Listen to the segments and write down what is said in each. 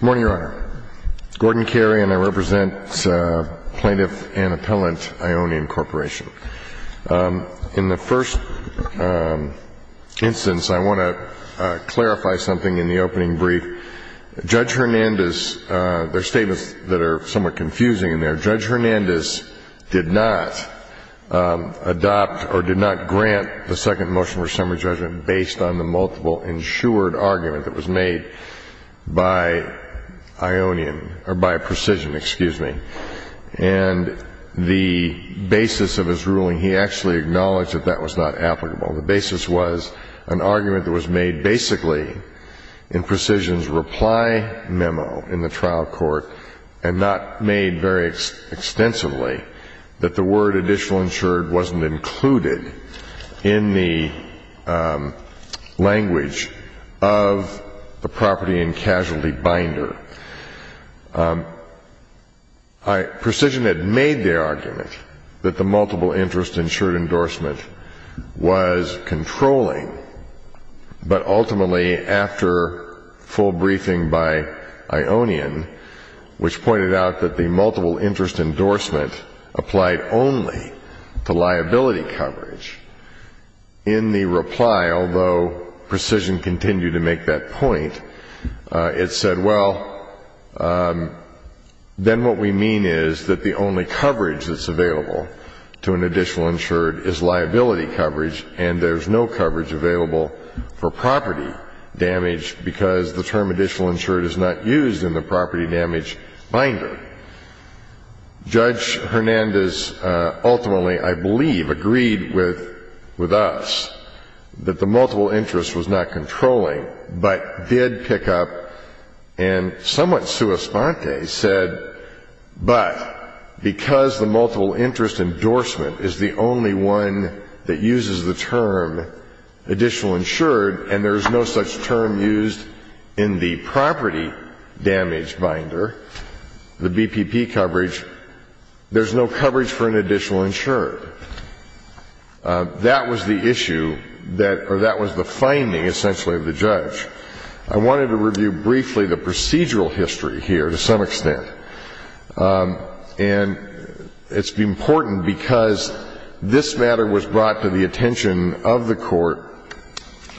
Good morning, Your Honor. Gordon Carey, and I represent Plaintiff and Appellant Ionian Corporation. In the first instance, I want to clarify something in the opening brief. Judge Hernandez, there are statements that are somewhat confusing in there. Judge Hernandez did not adopt or did not grant the second motion for summary judgment based on the multiple insured argument that was made by Ionian, or by Precision, excuse me. And the basis of his ruling, he actually acknowledged that that was not applicable. The basis was an argument that was made basically in Precision's reply memo in the trial court and not made very extensively, that the word additional insured wasn't included in the language of the property and casualty binder. Precision had made their argument that the multiple interest insured endorsement was controlling, but ultimately after full briefing by Ionian, which pointed out that the multiple interest endorsement applied only to liability coverage. In the reply, although Precision continued to make that point, it said, well, then what we mean is that the only coverage that's available to an additional insured is liability coverage, and there's no coverage available for property damage because the term additional insured is not used in the property damage binder. Judge Hernandez ultimately, I believe, agreed with us that the multiple interest was not controlling, but did pick up and somewhat sua sponte said, but because the multiple interest endorsement is the only one that uses the term additional insured and there's no such term used in the property damage binder, the BPP coverage, there's no coverage for an additional insured. That was the issue that, or that was the finding, essentially, of the judge. I wanted to review briefly the procedural history here to some extent. And it's important because this matter was brought to the attention of the court,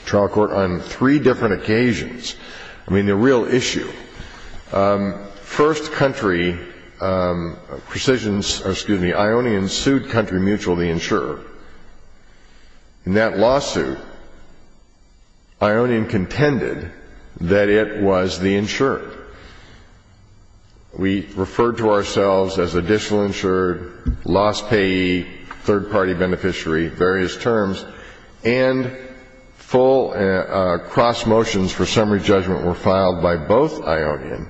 trial court, on three different occasions. I mean, the real issue. First country, Precision's, excuse me, Ionian sued country mutual, the insurer. In that lawsuit, Ionian contended that it was the insurer. We referred to ourselves as additional insured, loss payee, third-party beneficiary, various terms, and full cross motions for summary judgment were filed by both Ionian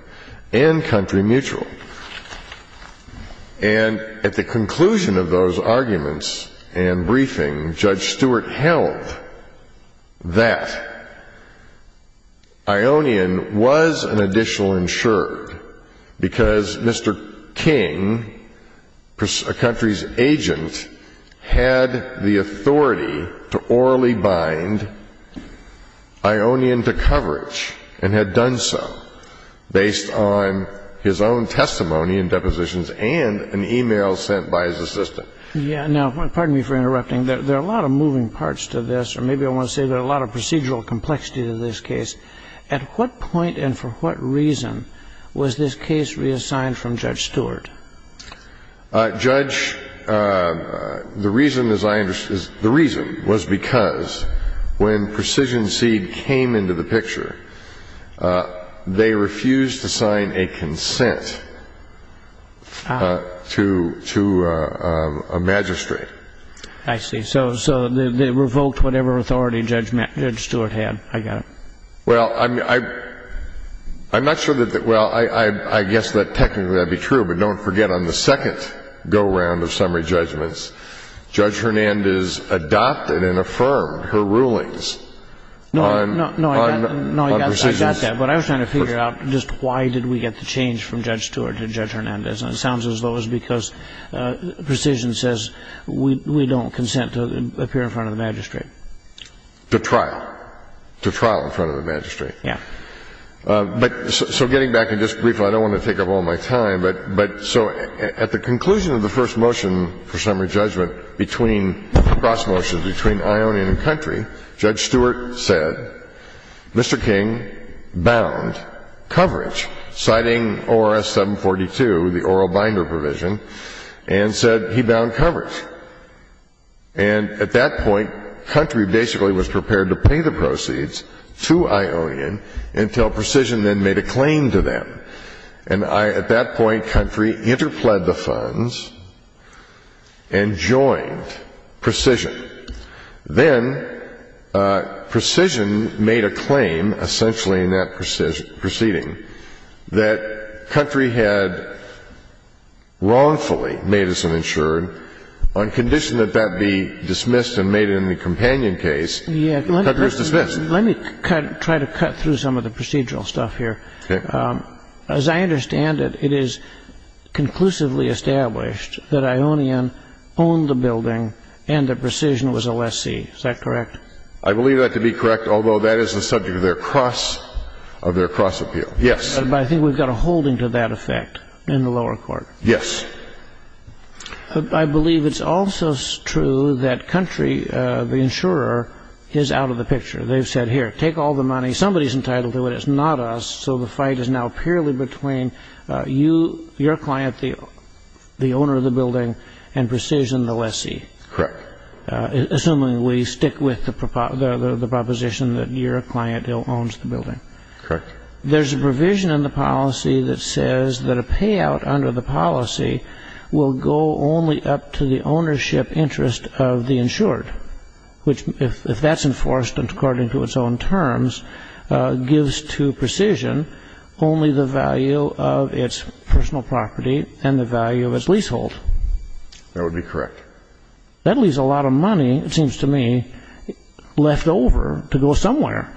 and country mutual. And at the conclusion of those arguments and briefing, Judge Stewart held that Ionian was an additional insured because Mr. King, a country's agent, had the authority to orally bind Ionian to coverage and had done so based on his own testimony and depositions and an e-mail sent by his assistant. Yeah. Now, pardon me for interrupting. There are a lot of moving parts to this, or maybe I want to say there are a lot of procedural complexity to this case. At what point and for what reason was this case reassigned from Judge Stewart? Judge, the reason, as I understand, the reason was because when Precision Seed came into the picture, they refused to sign a consent to a magistrate. I see. So they revoked whatever authority Judge Stewart had. I got it. Well, I'm not sure that the — well, I guess that technically that would be true, but don't forget on the second go-round of summary judgments, Judge Hernandez adopted and affirmed her rulings on Precision's. No, I got that. But I was trying to figure out just why did we get the change from Judge Stewart to Judge Hernandez. And it sounds as though it was because Precision says we don't consent to appear in front of the magistrate. To trial. To trial in front of the magistrate. Yeah. But so getting back and just briefly, I don't want to take up all my time, but so at the conclusion of the first motion for summary judgment between cross motions, between Ionian and country, Judge Stewart said Mr. King bound coverage, citing ORS 742, the oral binder provision, and said he bound coverage. And at that point, country basically was prepared to pay the proceeds to Ionian until Precision then made a claim to them. And at that point, country interpled the funds and joined Precision. Then Precision made a claim, essentially in that proceeding, that country had wrongfully made us uninsured. On condition that that be dismissed and made in the companion case, country was dismissed. Let me try to cut through some of the procedural stuff here. Okay. As I understand it, it is conclusively established that Ionian owned the building and that Precision was a lessee. Is that correct? I believe that to be correct, although that is the subject of their cross appeal. Yes. But I think we've got a holding to that effect in the lower court. Yes. I believe it's also true that country, the insurer, is out of the picture. They've said, here, take all the money. Somebody is entitled to it. It's not us. So the fight is now purely between you, your client, the owner of the building, and Precision, the lessee. Correct. Assuming we stick with the proposition that your client owns the building. Correct. There's a provision in the policy that says that a payout under the policy will go only up to the ownership interest of the insured. If that's enforced according to its own terms, gives to Precision only the value of its personal property and the value of its leasehold. That would be correct. That leaves a lot of money, it seems to me, left over to go somewhere.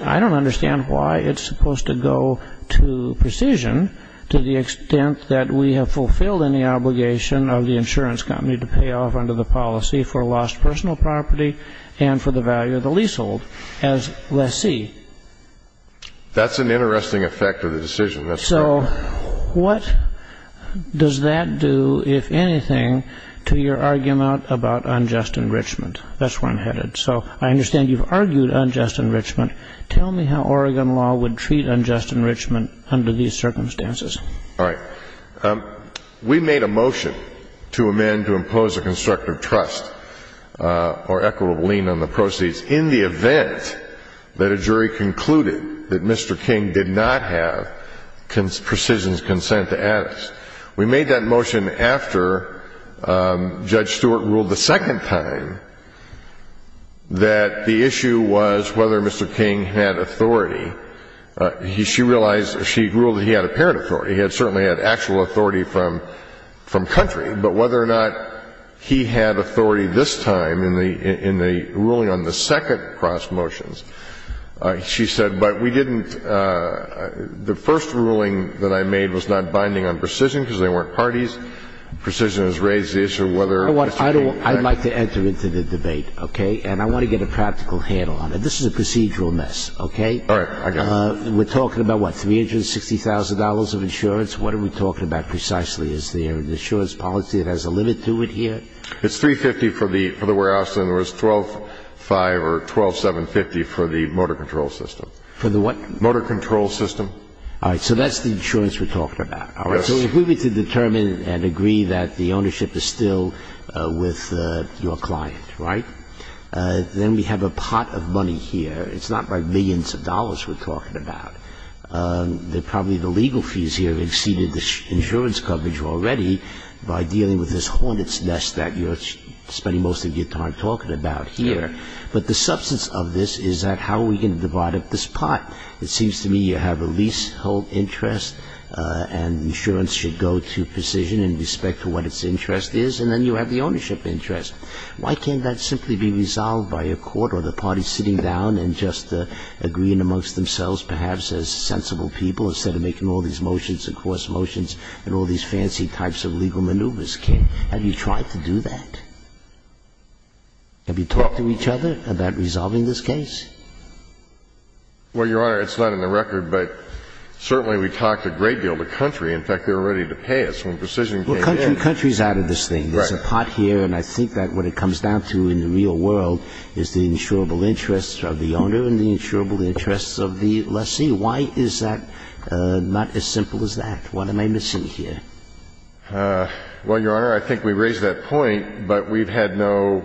I don't understand why it's supposed to go to Precision to the extent that we have fulfilled any obligation of the insurance company to pay off under the policy for lost personal property and for the value of the leasehold as lessee. That's an interesting effect of the decision. So what does that do, if anything, to your argument about unjust enrichment? That's where I'm headed. So I understand you've argued unjust enrichment. Tell me how Oregon law would treat unjust enrichment under these circumstances. All right. We made a motion to amend to impose a constructive trust or equitable lien on the proceeds in the event that a jury concluded that Mr. King did not have Precision's consent to add us. We made that motion after Judge Stewart ruled the second time that the issue was whether Mr. King had authority. She realized, she ruled that he had apparent authority. He had certainly had actual authority from country. But whether or not he had authority this time in the ruling on the second cross motions, she said, but we didn't, the first ruling that I made was not binding on Precision because they weren't parties. Precision has raised the issue of whether Mr. King. I'd like to enter into the debate, okay? And I want to get a practical handle on it. This is a procedural mess, okay? All right. I got it. We're talking about what, $360,000 of insurance? What are we talking about precisely? Is there an insurance policy that has a limit to it here? It's $350,000 for the warehouse and it was $12,500 or $12,750 for the motor control system. For the what? Motor control system. All right. So that's the insurance we're talking about. Yes. All right. So if we were to determine and agree that the ownership is still with your client, right, then we have a pot of money here. It's not like millions of dollars we're talking about. Probably the legal fees here have exceeded the insurance coverage already by dealing with this hornet's nest that you're spending most of your time talking about here. But the substance of this is that how are we going to divide up this pot? It seems to me you have a leasehold interest and insurance should go to Precision in respect to what its interest is, and then you have the ownership interest. Why can't that simply be resolved by a court or the parties sitting down and just agreeing amongst themselves perhaps as sensible people instead of making all these motions and coarse motions and all these fancy types of legal maneuvers? Have you tried to do that? Have you talked to each other about resolving this case? Well, Your Honor, it's not in the record, but certainly we talked a great deal to Country. In fact, they were ready to pay us when Precision came in. Well, Country is out of this thing. Right. But there's a pot here, and I think that what it comes down to in the real world is the insurable interests of the owner and the insurable interests of the lessee. Why is that not as simple as that? What am I missing here? Well, Your Honor, I think we raised that point, but we've had no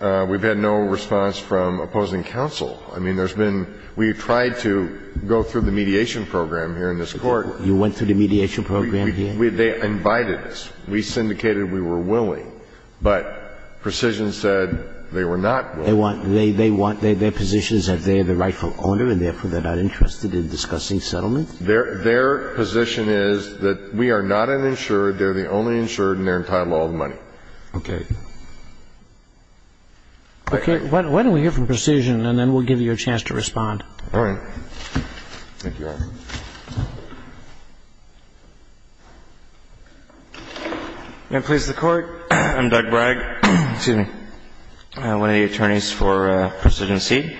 response from opposing counsel. I mean, there's been we've tried to go through the mediation program here in this Court. You went through the mediation program here? Yes, Your Honor. I mean, they invited us. We syndicated. We were willing. But Precision said they were not willing. They want their positions that they are the rightful owner and therefore they're not interested in discussing settlement? Their position is that we are not uninsured, they're the only insured, and they're entitled to all the money. Okay. Okay. Why don't we hear from Precision, and then we'll give you a chance to respond. All right. Thank you, Your Honor. May it please the Court. I'm Doug Bragg. Excuse me. I'm one of the attorneys for Precision C.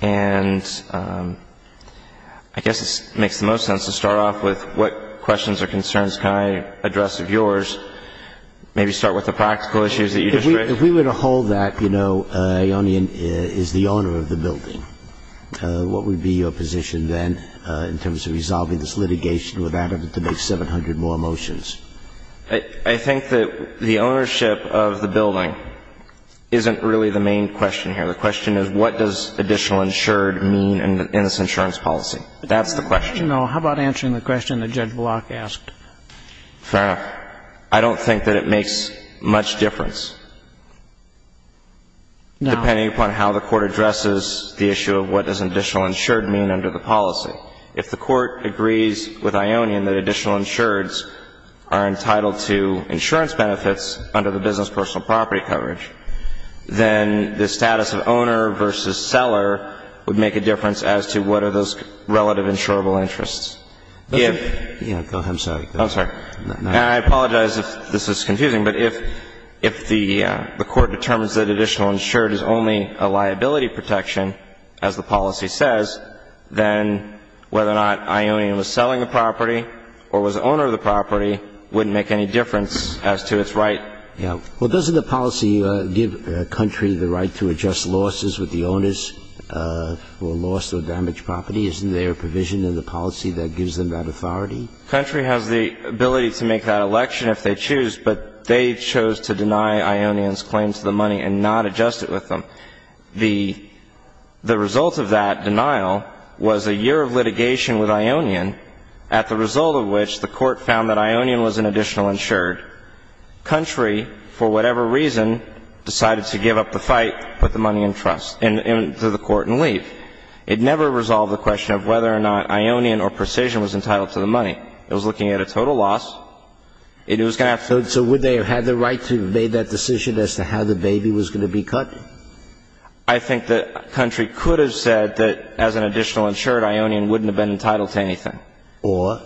And I guess it makes the most sense to start off with what questions or concerns can I address of yours, maybe start with the practical issues that you just raised. If we were to hold that, you know, Ionian is the owner of the building, what would be your position then in terms of resolving this litigation without having to make 700 more motions? I think that the ownership of the building isn't really the main question here. The question is what does additional insured mean in this insurance policy? That's the question. No. How about answering the question that Judge Block asked? Fair enough. I don't think that it makes much difference. No. Depending upon how the Court addresses the issue of what does additional insured mean under the policy. If the Court agrees with Ionian that additional insureds are entitled to insurance benefits under the business personal property coverage, then the status of owner versus seller would make a difference as to what are those relative insurable interests. Yeah. I'm sorry. I'm sorry. I apologize if this is confusing, but if the Court determines that additional insured is only a liability protection, as the policy says, then whether or not Ionian was selling the property or was the owner of the property wouldn't make any difference as to its right. Yeah. Well, doesn't the policy give a country the right to adjust losses with the owners who are lost or damaged property? Isn't there a provision in the policy that gives them that authority? The country has the ability to make that election if they choose, but they chose to deny Ionian's claim to the money and not adjust it with them. The result of that denial was a year of litigation with Ionian, at the result of which the Court found that Ionian was an additional insured. Country, for whatever reason, decided to give up the fight, put the money into the Court, and leave. It never resolved the question of whether or not Ionian or Precision was entitled to the money. It was looking at a total loss. It was going to have to be cut. So would they have had the right to have made that decision as to how the baby was going to be cut? I think the country could have said that as an additional insured, Ionian wouldn't have been entitled to anything. Or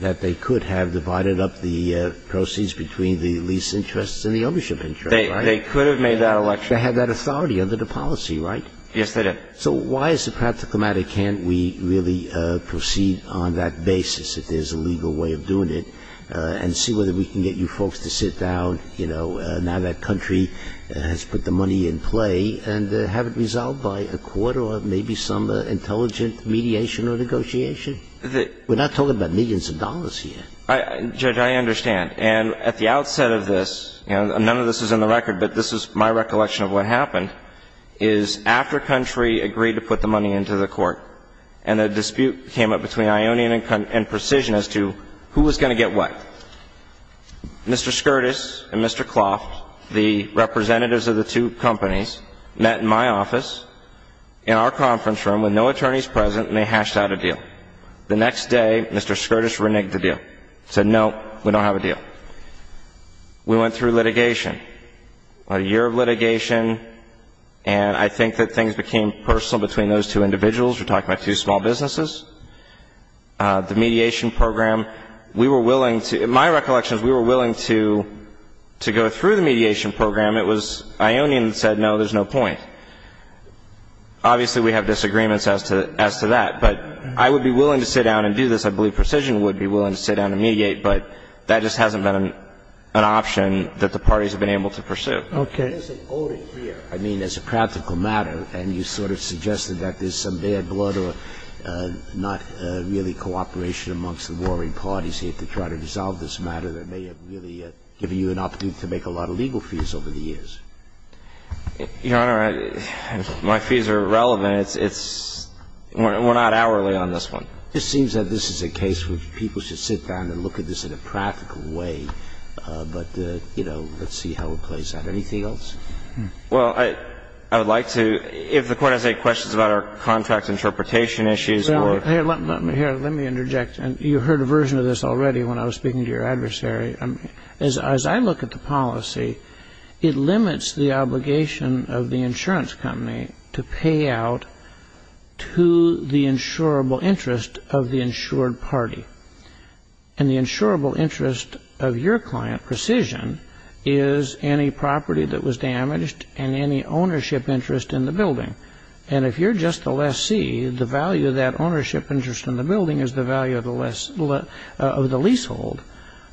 that they could have divided up the proceeds between the lease interests and the ownership insurance, right? They could have made that election. They had that authority under the policy, right? Yes, they did. So why as a practical matter can't we really proceed on that basis, if there's a legal way of doing it, and see whether we can get you folks to sit down, you know, now that country has put the money in play, and have it resolved by a court or maybe some intelligent mediation or negotiation? We're not talking about millions of dollars here. Judge, I understand. And at the outset of this, and none of this is in the record, but this is my recollection of what happened, is after country agreed to put the money into the court, and a dispute came up between Ionian and Precision as to who was going to get what, Mr. Skirtis and Mr. Clough, the representatives of the two companies, met in my office in our conference room with no attorneys present, and they hashed out a deal. The next day, Mr. Skirtis reneged the deal. He said, no, we don't have a deal. We went through litigation. A year of litigation, and I think that things became personal between those two individuals. We're talking about two small businesses. The mediation program, we were willing to, in my recollection, we were willing to go through the mediation program. It was Ionian that said, no, there's no point. Obviously, we have disagreements as to that, but I would be willing to sit down and do this. I believe Precision would be willing to sit down and mediate, but that just hasn't been an option that the parties have been able to pursue. Okay. There's a voting here. I mean, it's a practical matter, and you sort of suggested that there's some bad blood or not really cooperation amongst the warring parties here to try to dissolve this matter that may have really given you an opportunity to make a lot of legal fees over the years. Your Honor, my fees are irrelevant. We're not hourly on this one. It seems that this is a case which people should sit down and look at this in a practical way, but, you know, let's see how it plays out. Anything else? Well, I would like to, if the Court has any questions about our contract interpretation issues or ---- Let me interject. You heard a version of this already when I was speaking to your adversary. As I look at the policy, it limits the obligation of the insurance company to pay out the insurable interest of the insured party. And the insurable interest of your client, Precision, is any property that was damaged and any ownership interest in the building. And if you're just the lessee, the value of that ownership interest in the building is the value of the leasehold.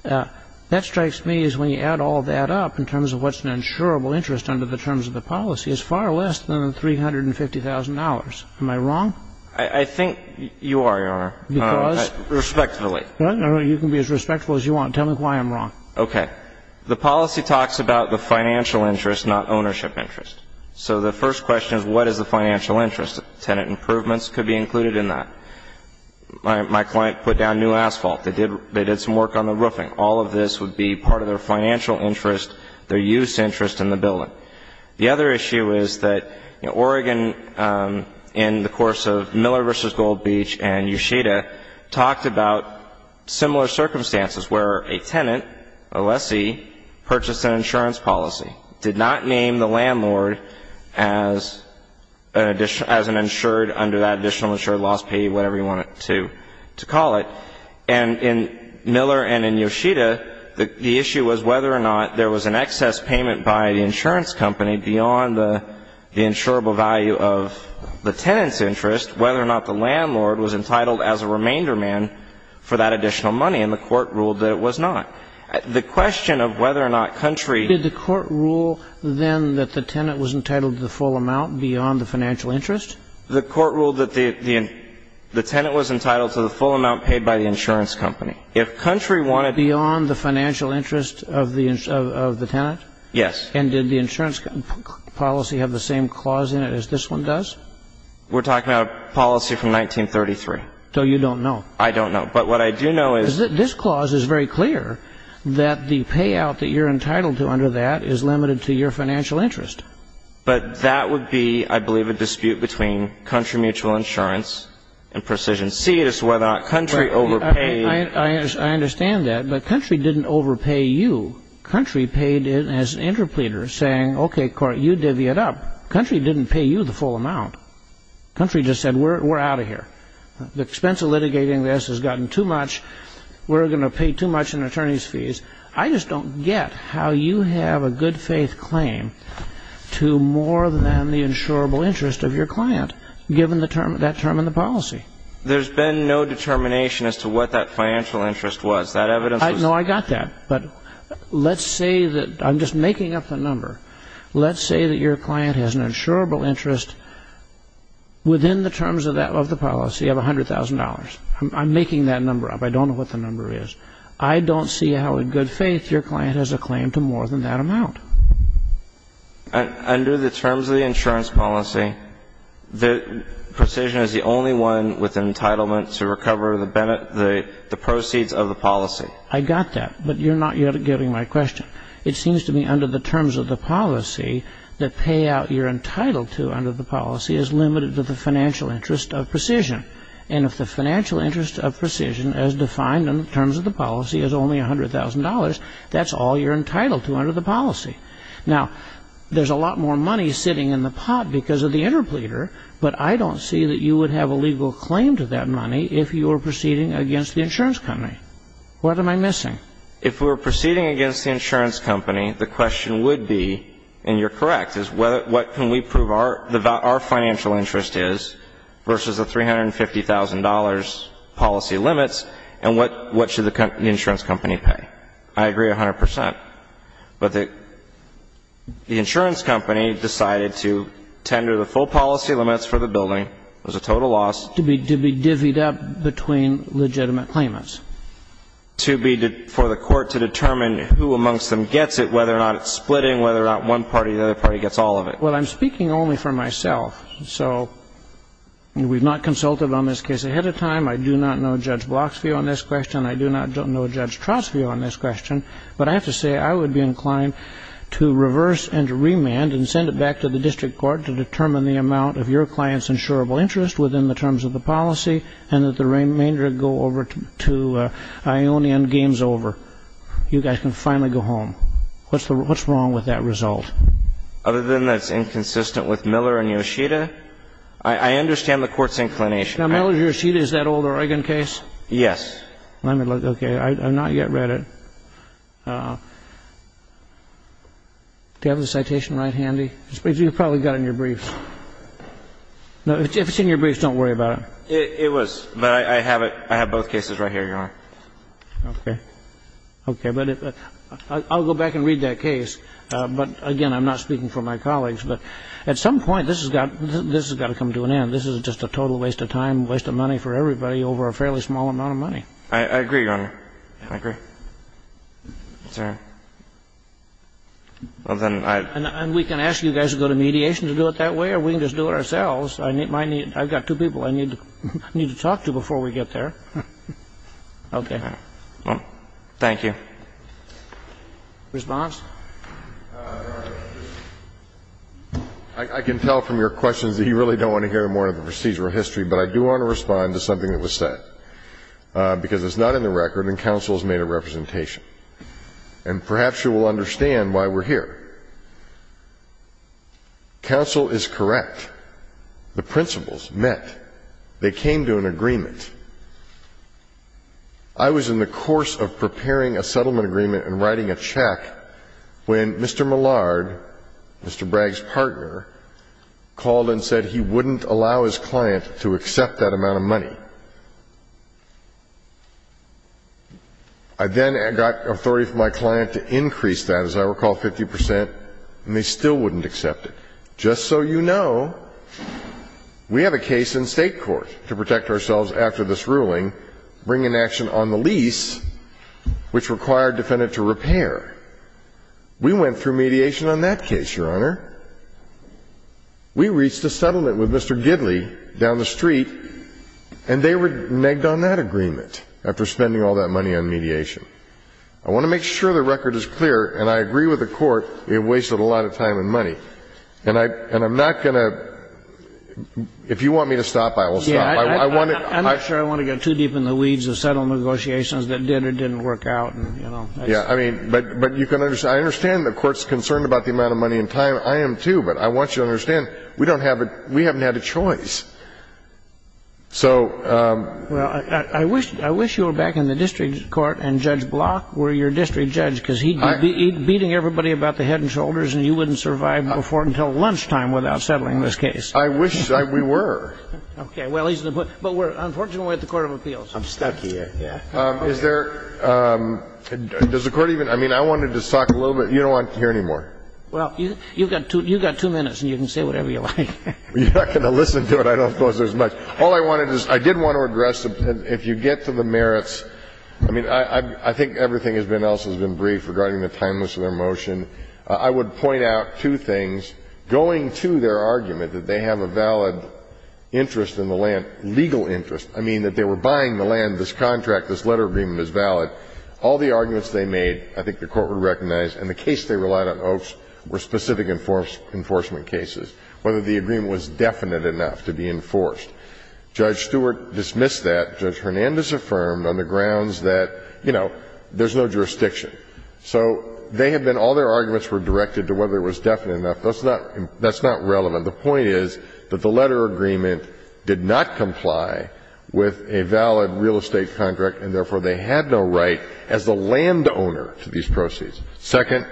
That strikes me as when you add all that up in terms of what's an insurable interest under the terms of the policy, it's far less than $350,000. Am I wrong? I think you are, Your Honor. Because? Respectfully. You can be as respectful as you want. Tell me why I'm wrong. Okay. The policy talks about the financial interest, not ownership interest. So the first question is, what is the financial interest? Tenant improvements could be included in that. My client put down new asphalt. They did some work on the roofing. All of this would be part of their financial interest, their use interest in the building. The other issue is that Oregon, in the course of Miller v. Gold Beach and Yoshida, talked about similar circumstances where a tenant, a lessee, purchased an insurance policy, did not name the landlord as an insured under that additional insured loss pay, whatever you want to call it. And in Miller and in Yoshida, the issue was whether or not there was an excess payment by the insurance company beyond the insurable value of the tenant's interest, whether or not the landlord was entitled as a remainder man for that additional money. And the Court ruled that it was not. The question of whether or not country ---- Did the Court rule then that the tenant was entitled to the full amount beyond the financial interest? The Court ruled that the tenant was entitled to the full amount paid by the insurance company. If country wanted ---- Beyond the financial interest of the tenant? Yes. And did the insurance policy have the same clause in it as this one does? We're talking about a policy from 1933. So you don't know. I don't know. But what I do know is ---- Because this clause is very clear, that the payout that you're entitled to under that is limited to your financial interest. But that would be, I believe, a dispute between country mutual insurance and precision. C is whether or not country overpaid ---- I understand that. But country didn't overpay you. Country paid it as an interpleader, saying, okay, Court, you divvy it up. Country didn't pay you the full amount. Country just said, we're out of here. The expense of litigating this has gotten too much. We're going to pay too much in attorney's fees. I just don't get how you have a good faith claim to more than the insurable interest of your client, given that term in the policy. There's been no determination as to what that financial interest was. That evidence was ---- No, I got that. But let's say that ---- I'm just making up the number. Let's say that your client has an insurable interest within the terms of the policy of $100,000. I'm making that number up. I don't know what the number is. I don't see how in good faith your client has a claim to more than that amount. Under the terms of the insurance policy, precision is the only one with entitlement to recover the proceeds of the policy. I got that. But you're not yet getting my question. It seems to me under the terms of the policy, the payout you're entitled to under the policy is limited to the financial interest of precision. And if the financial interest of precision as defined in terms of the policy is only $100,000, that's all you're entitled to under the policy. Now, there's a lot more money sitting in the pot because of the interpleader, but I don't see that you would have a legal claim to that money if you were proceeding against the insurance company. What am I missing? If we were proceeding against the insurance company, the question would be, and you're correct, is what can we prove our financial interest is versus the $350,000 policy limits and what should the insurance company pay? I agree 100 percent. But the insurance company decided to tender the full policy limits for the building. It was a total loss. To be divvied up between legitimate claimants. For the court to determine who amongst them gets it, whether or not it's splitting, whether or not one party or the other party gets all of it. Well, I'm speaking only for myself. So we've not consulted on this case ahead of time. I do not know Judge Bloxfield on this question. I do not know Judge Trostfield on this question. But I have to say I would be inclined to reverse and to remand and send it back to the district court to determine the amount of your client's insurable interest within the terms of the policy and that the remainder go over to Ione and game's over. You guys can finally go home. What's wrong with that result? Other than that's inconsistent with Miller and Yoshida, I understand the court's inclination. Now, Miller and Yoshida, is that old Oregon case? Yes. Let me look. Okay. I've not yet read it. Do you have the citation right handy? You probably got it in your brief. If it's in your brief, don't worry about it. It was. But I have it. I have both cases right here, Your Honor. Okay. Okay. But I'll go back and read that case. But, again, I'm not speaking for my colleagues. But at some point, this has got to come to an end. This is just a total waste of time, waste of money for everybody over a fairly small amount of money. I agree, Your Honor. I agree. It's all right. Well, then I — And we can ask you guys to go to mediation to do it that way or we can just do it ourselves. I've got two people I need to talk to before we get there. Okay. Thank you. Response? Your Honor, I can tell from your questions that you really don't want to hear more of the procedural history. But I do want to respond to something that was said, because it's not in the record and counsel has made a representation. And perhaps you will understand why we're here. Counsel is correct. The principles met. They came to an agreement. I was in the course of preparing a settlement agreement and writing a check when Mr. Millard, Mr. Bragg's partner, called and said he wouldn't allow his client to accept that amount of money. I then got authority from my client to increase that, as I recall, 50 percent, and they still wouldn't accept it. Just so you know, we have a case in state court to protect ourselves after this ruling, bring an action on the lease, which required defendant to repair. We went through mediation on that case, Your Honor. We reached a settlement with Mr. Gidley down the street, and they were negged on that agreement after spending all that money on mediation. I want to make sure the record is clear, and I agree with the court, we have wasted a lot of time and money. And I'm not going to ‑‑ if you want me to stop, I will stop. I'm not sure I want to get too deep in the weeds of settlement negotiations that did or didn't work out. I understand the court's concerned about the amount of money and time. I am, too, but I want you to understand we haven't had a choice. I wish you were back in the district court and Judge Block were your district judge, because he'd be beating everybody about the head and shoulders, and you wouldn't survive before until lunchtime without settling this case. I wish we were. Okay. Well, he's the ‑‑ but we're unfortunately at the court of appeals. I'm stuck here, yeah. Is there ‑‑ does the court even ‑‑ I mean, I wanted to talk a little bit. You don't want to hear any more. Well, you've got two minutes, and you can say whatever you like. You're not going to listen to it. I don't suppose there's much. All I wanted is ‑‑ I did want to address, if you get to the merits, I mean, I think everything else has been briefed. Regarding the timeliness of their motion, I would point out two things. Going to their argument that they have a valid interest in the land, legal interest, I mean, that they were buying the land, this contract, this letter agreement is valid. All the arguments they made, I think the Court would recognize, and the case they relied on most were specific enforcement cases, whether the agreement was definite enough to be enforced. Judge Stewart dismissed that. Judge Hernandez affirmed on the grounds that, you know, there's no jurisdiction. So they have been ‑‑ all their arguments were directed to whether it was definite enough. That's not ‑‑ that's not relevant. The point is that the letter agreement did not comply with a valid real estate contract, and therefore they had no right as the landowner to these proceeds. Second,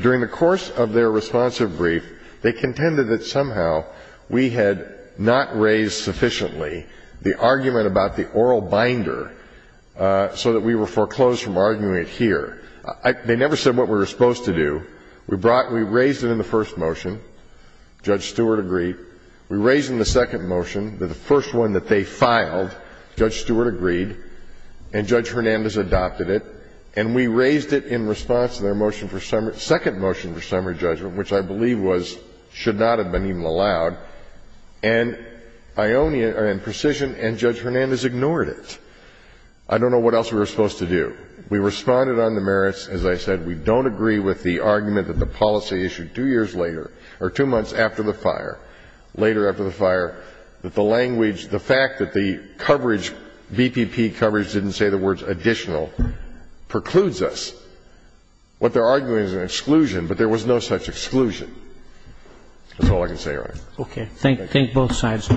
during the course of their responsive brief, they contended that somehow we had not raised sufficiently the argument about the oral binder so that we were foreclosed from arguing it here. They never said what we were supposed to do. We brought ‑‑ we raised it in the first motion. Judge Stewart agreed. We raised it in the second motion, the first one that they filed. Judge Stewart agreed. And Judge Hernandez adopted it. And we raised it in response to their motion for summary ‑‑ second motion for summary And Ionia ‑‑ and Precision and Judge Hernandez ignored it. I don't know what else we were supposed to do. We responded on the merits. As I said, we don't agree with the argument that the policy issued two years later or two months after the fire, later after the fire, that the language, the fact that the coverage, BPP coverage didn't say the words additional, precludes us. What they're arguing is an exclusion, but there was no such exclusion. That's all I can say, Your Honor. Okay. Thank both sides.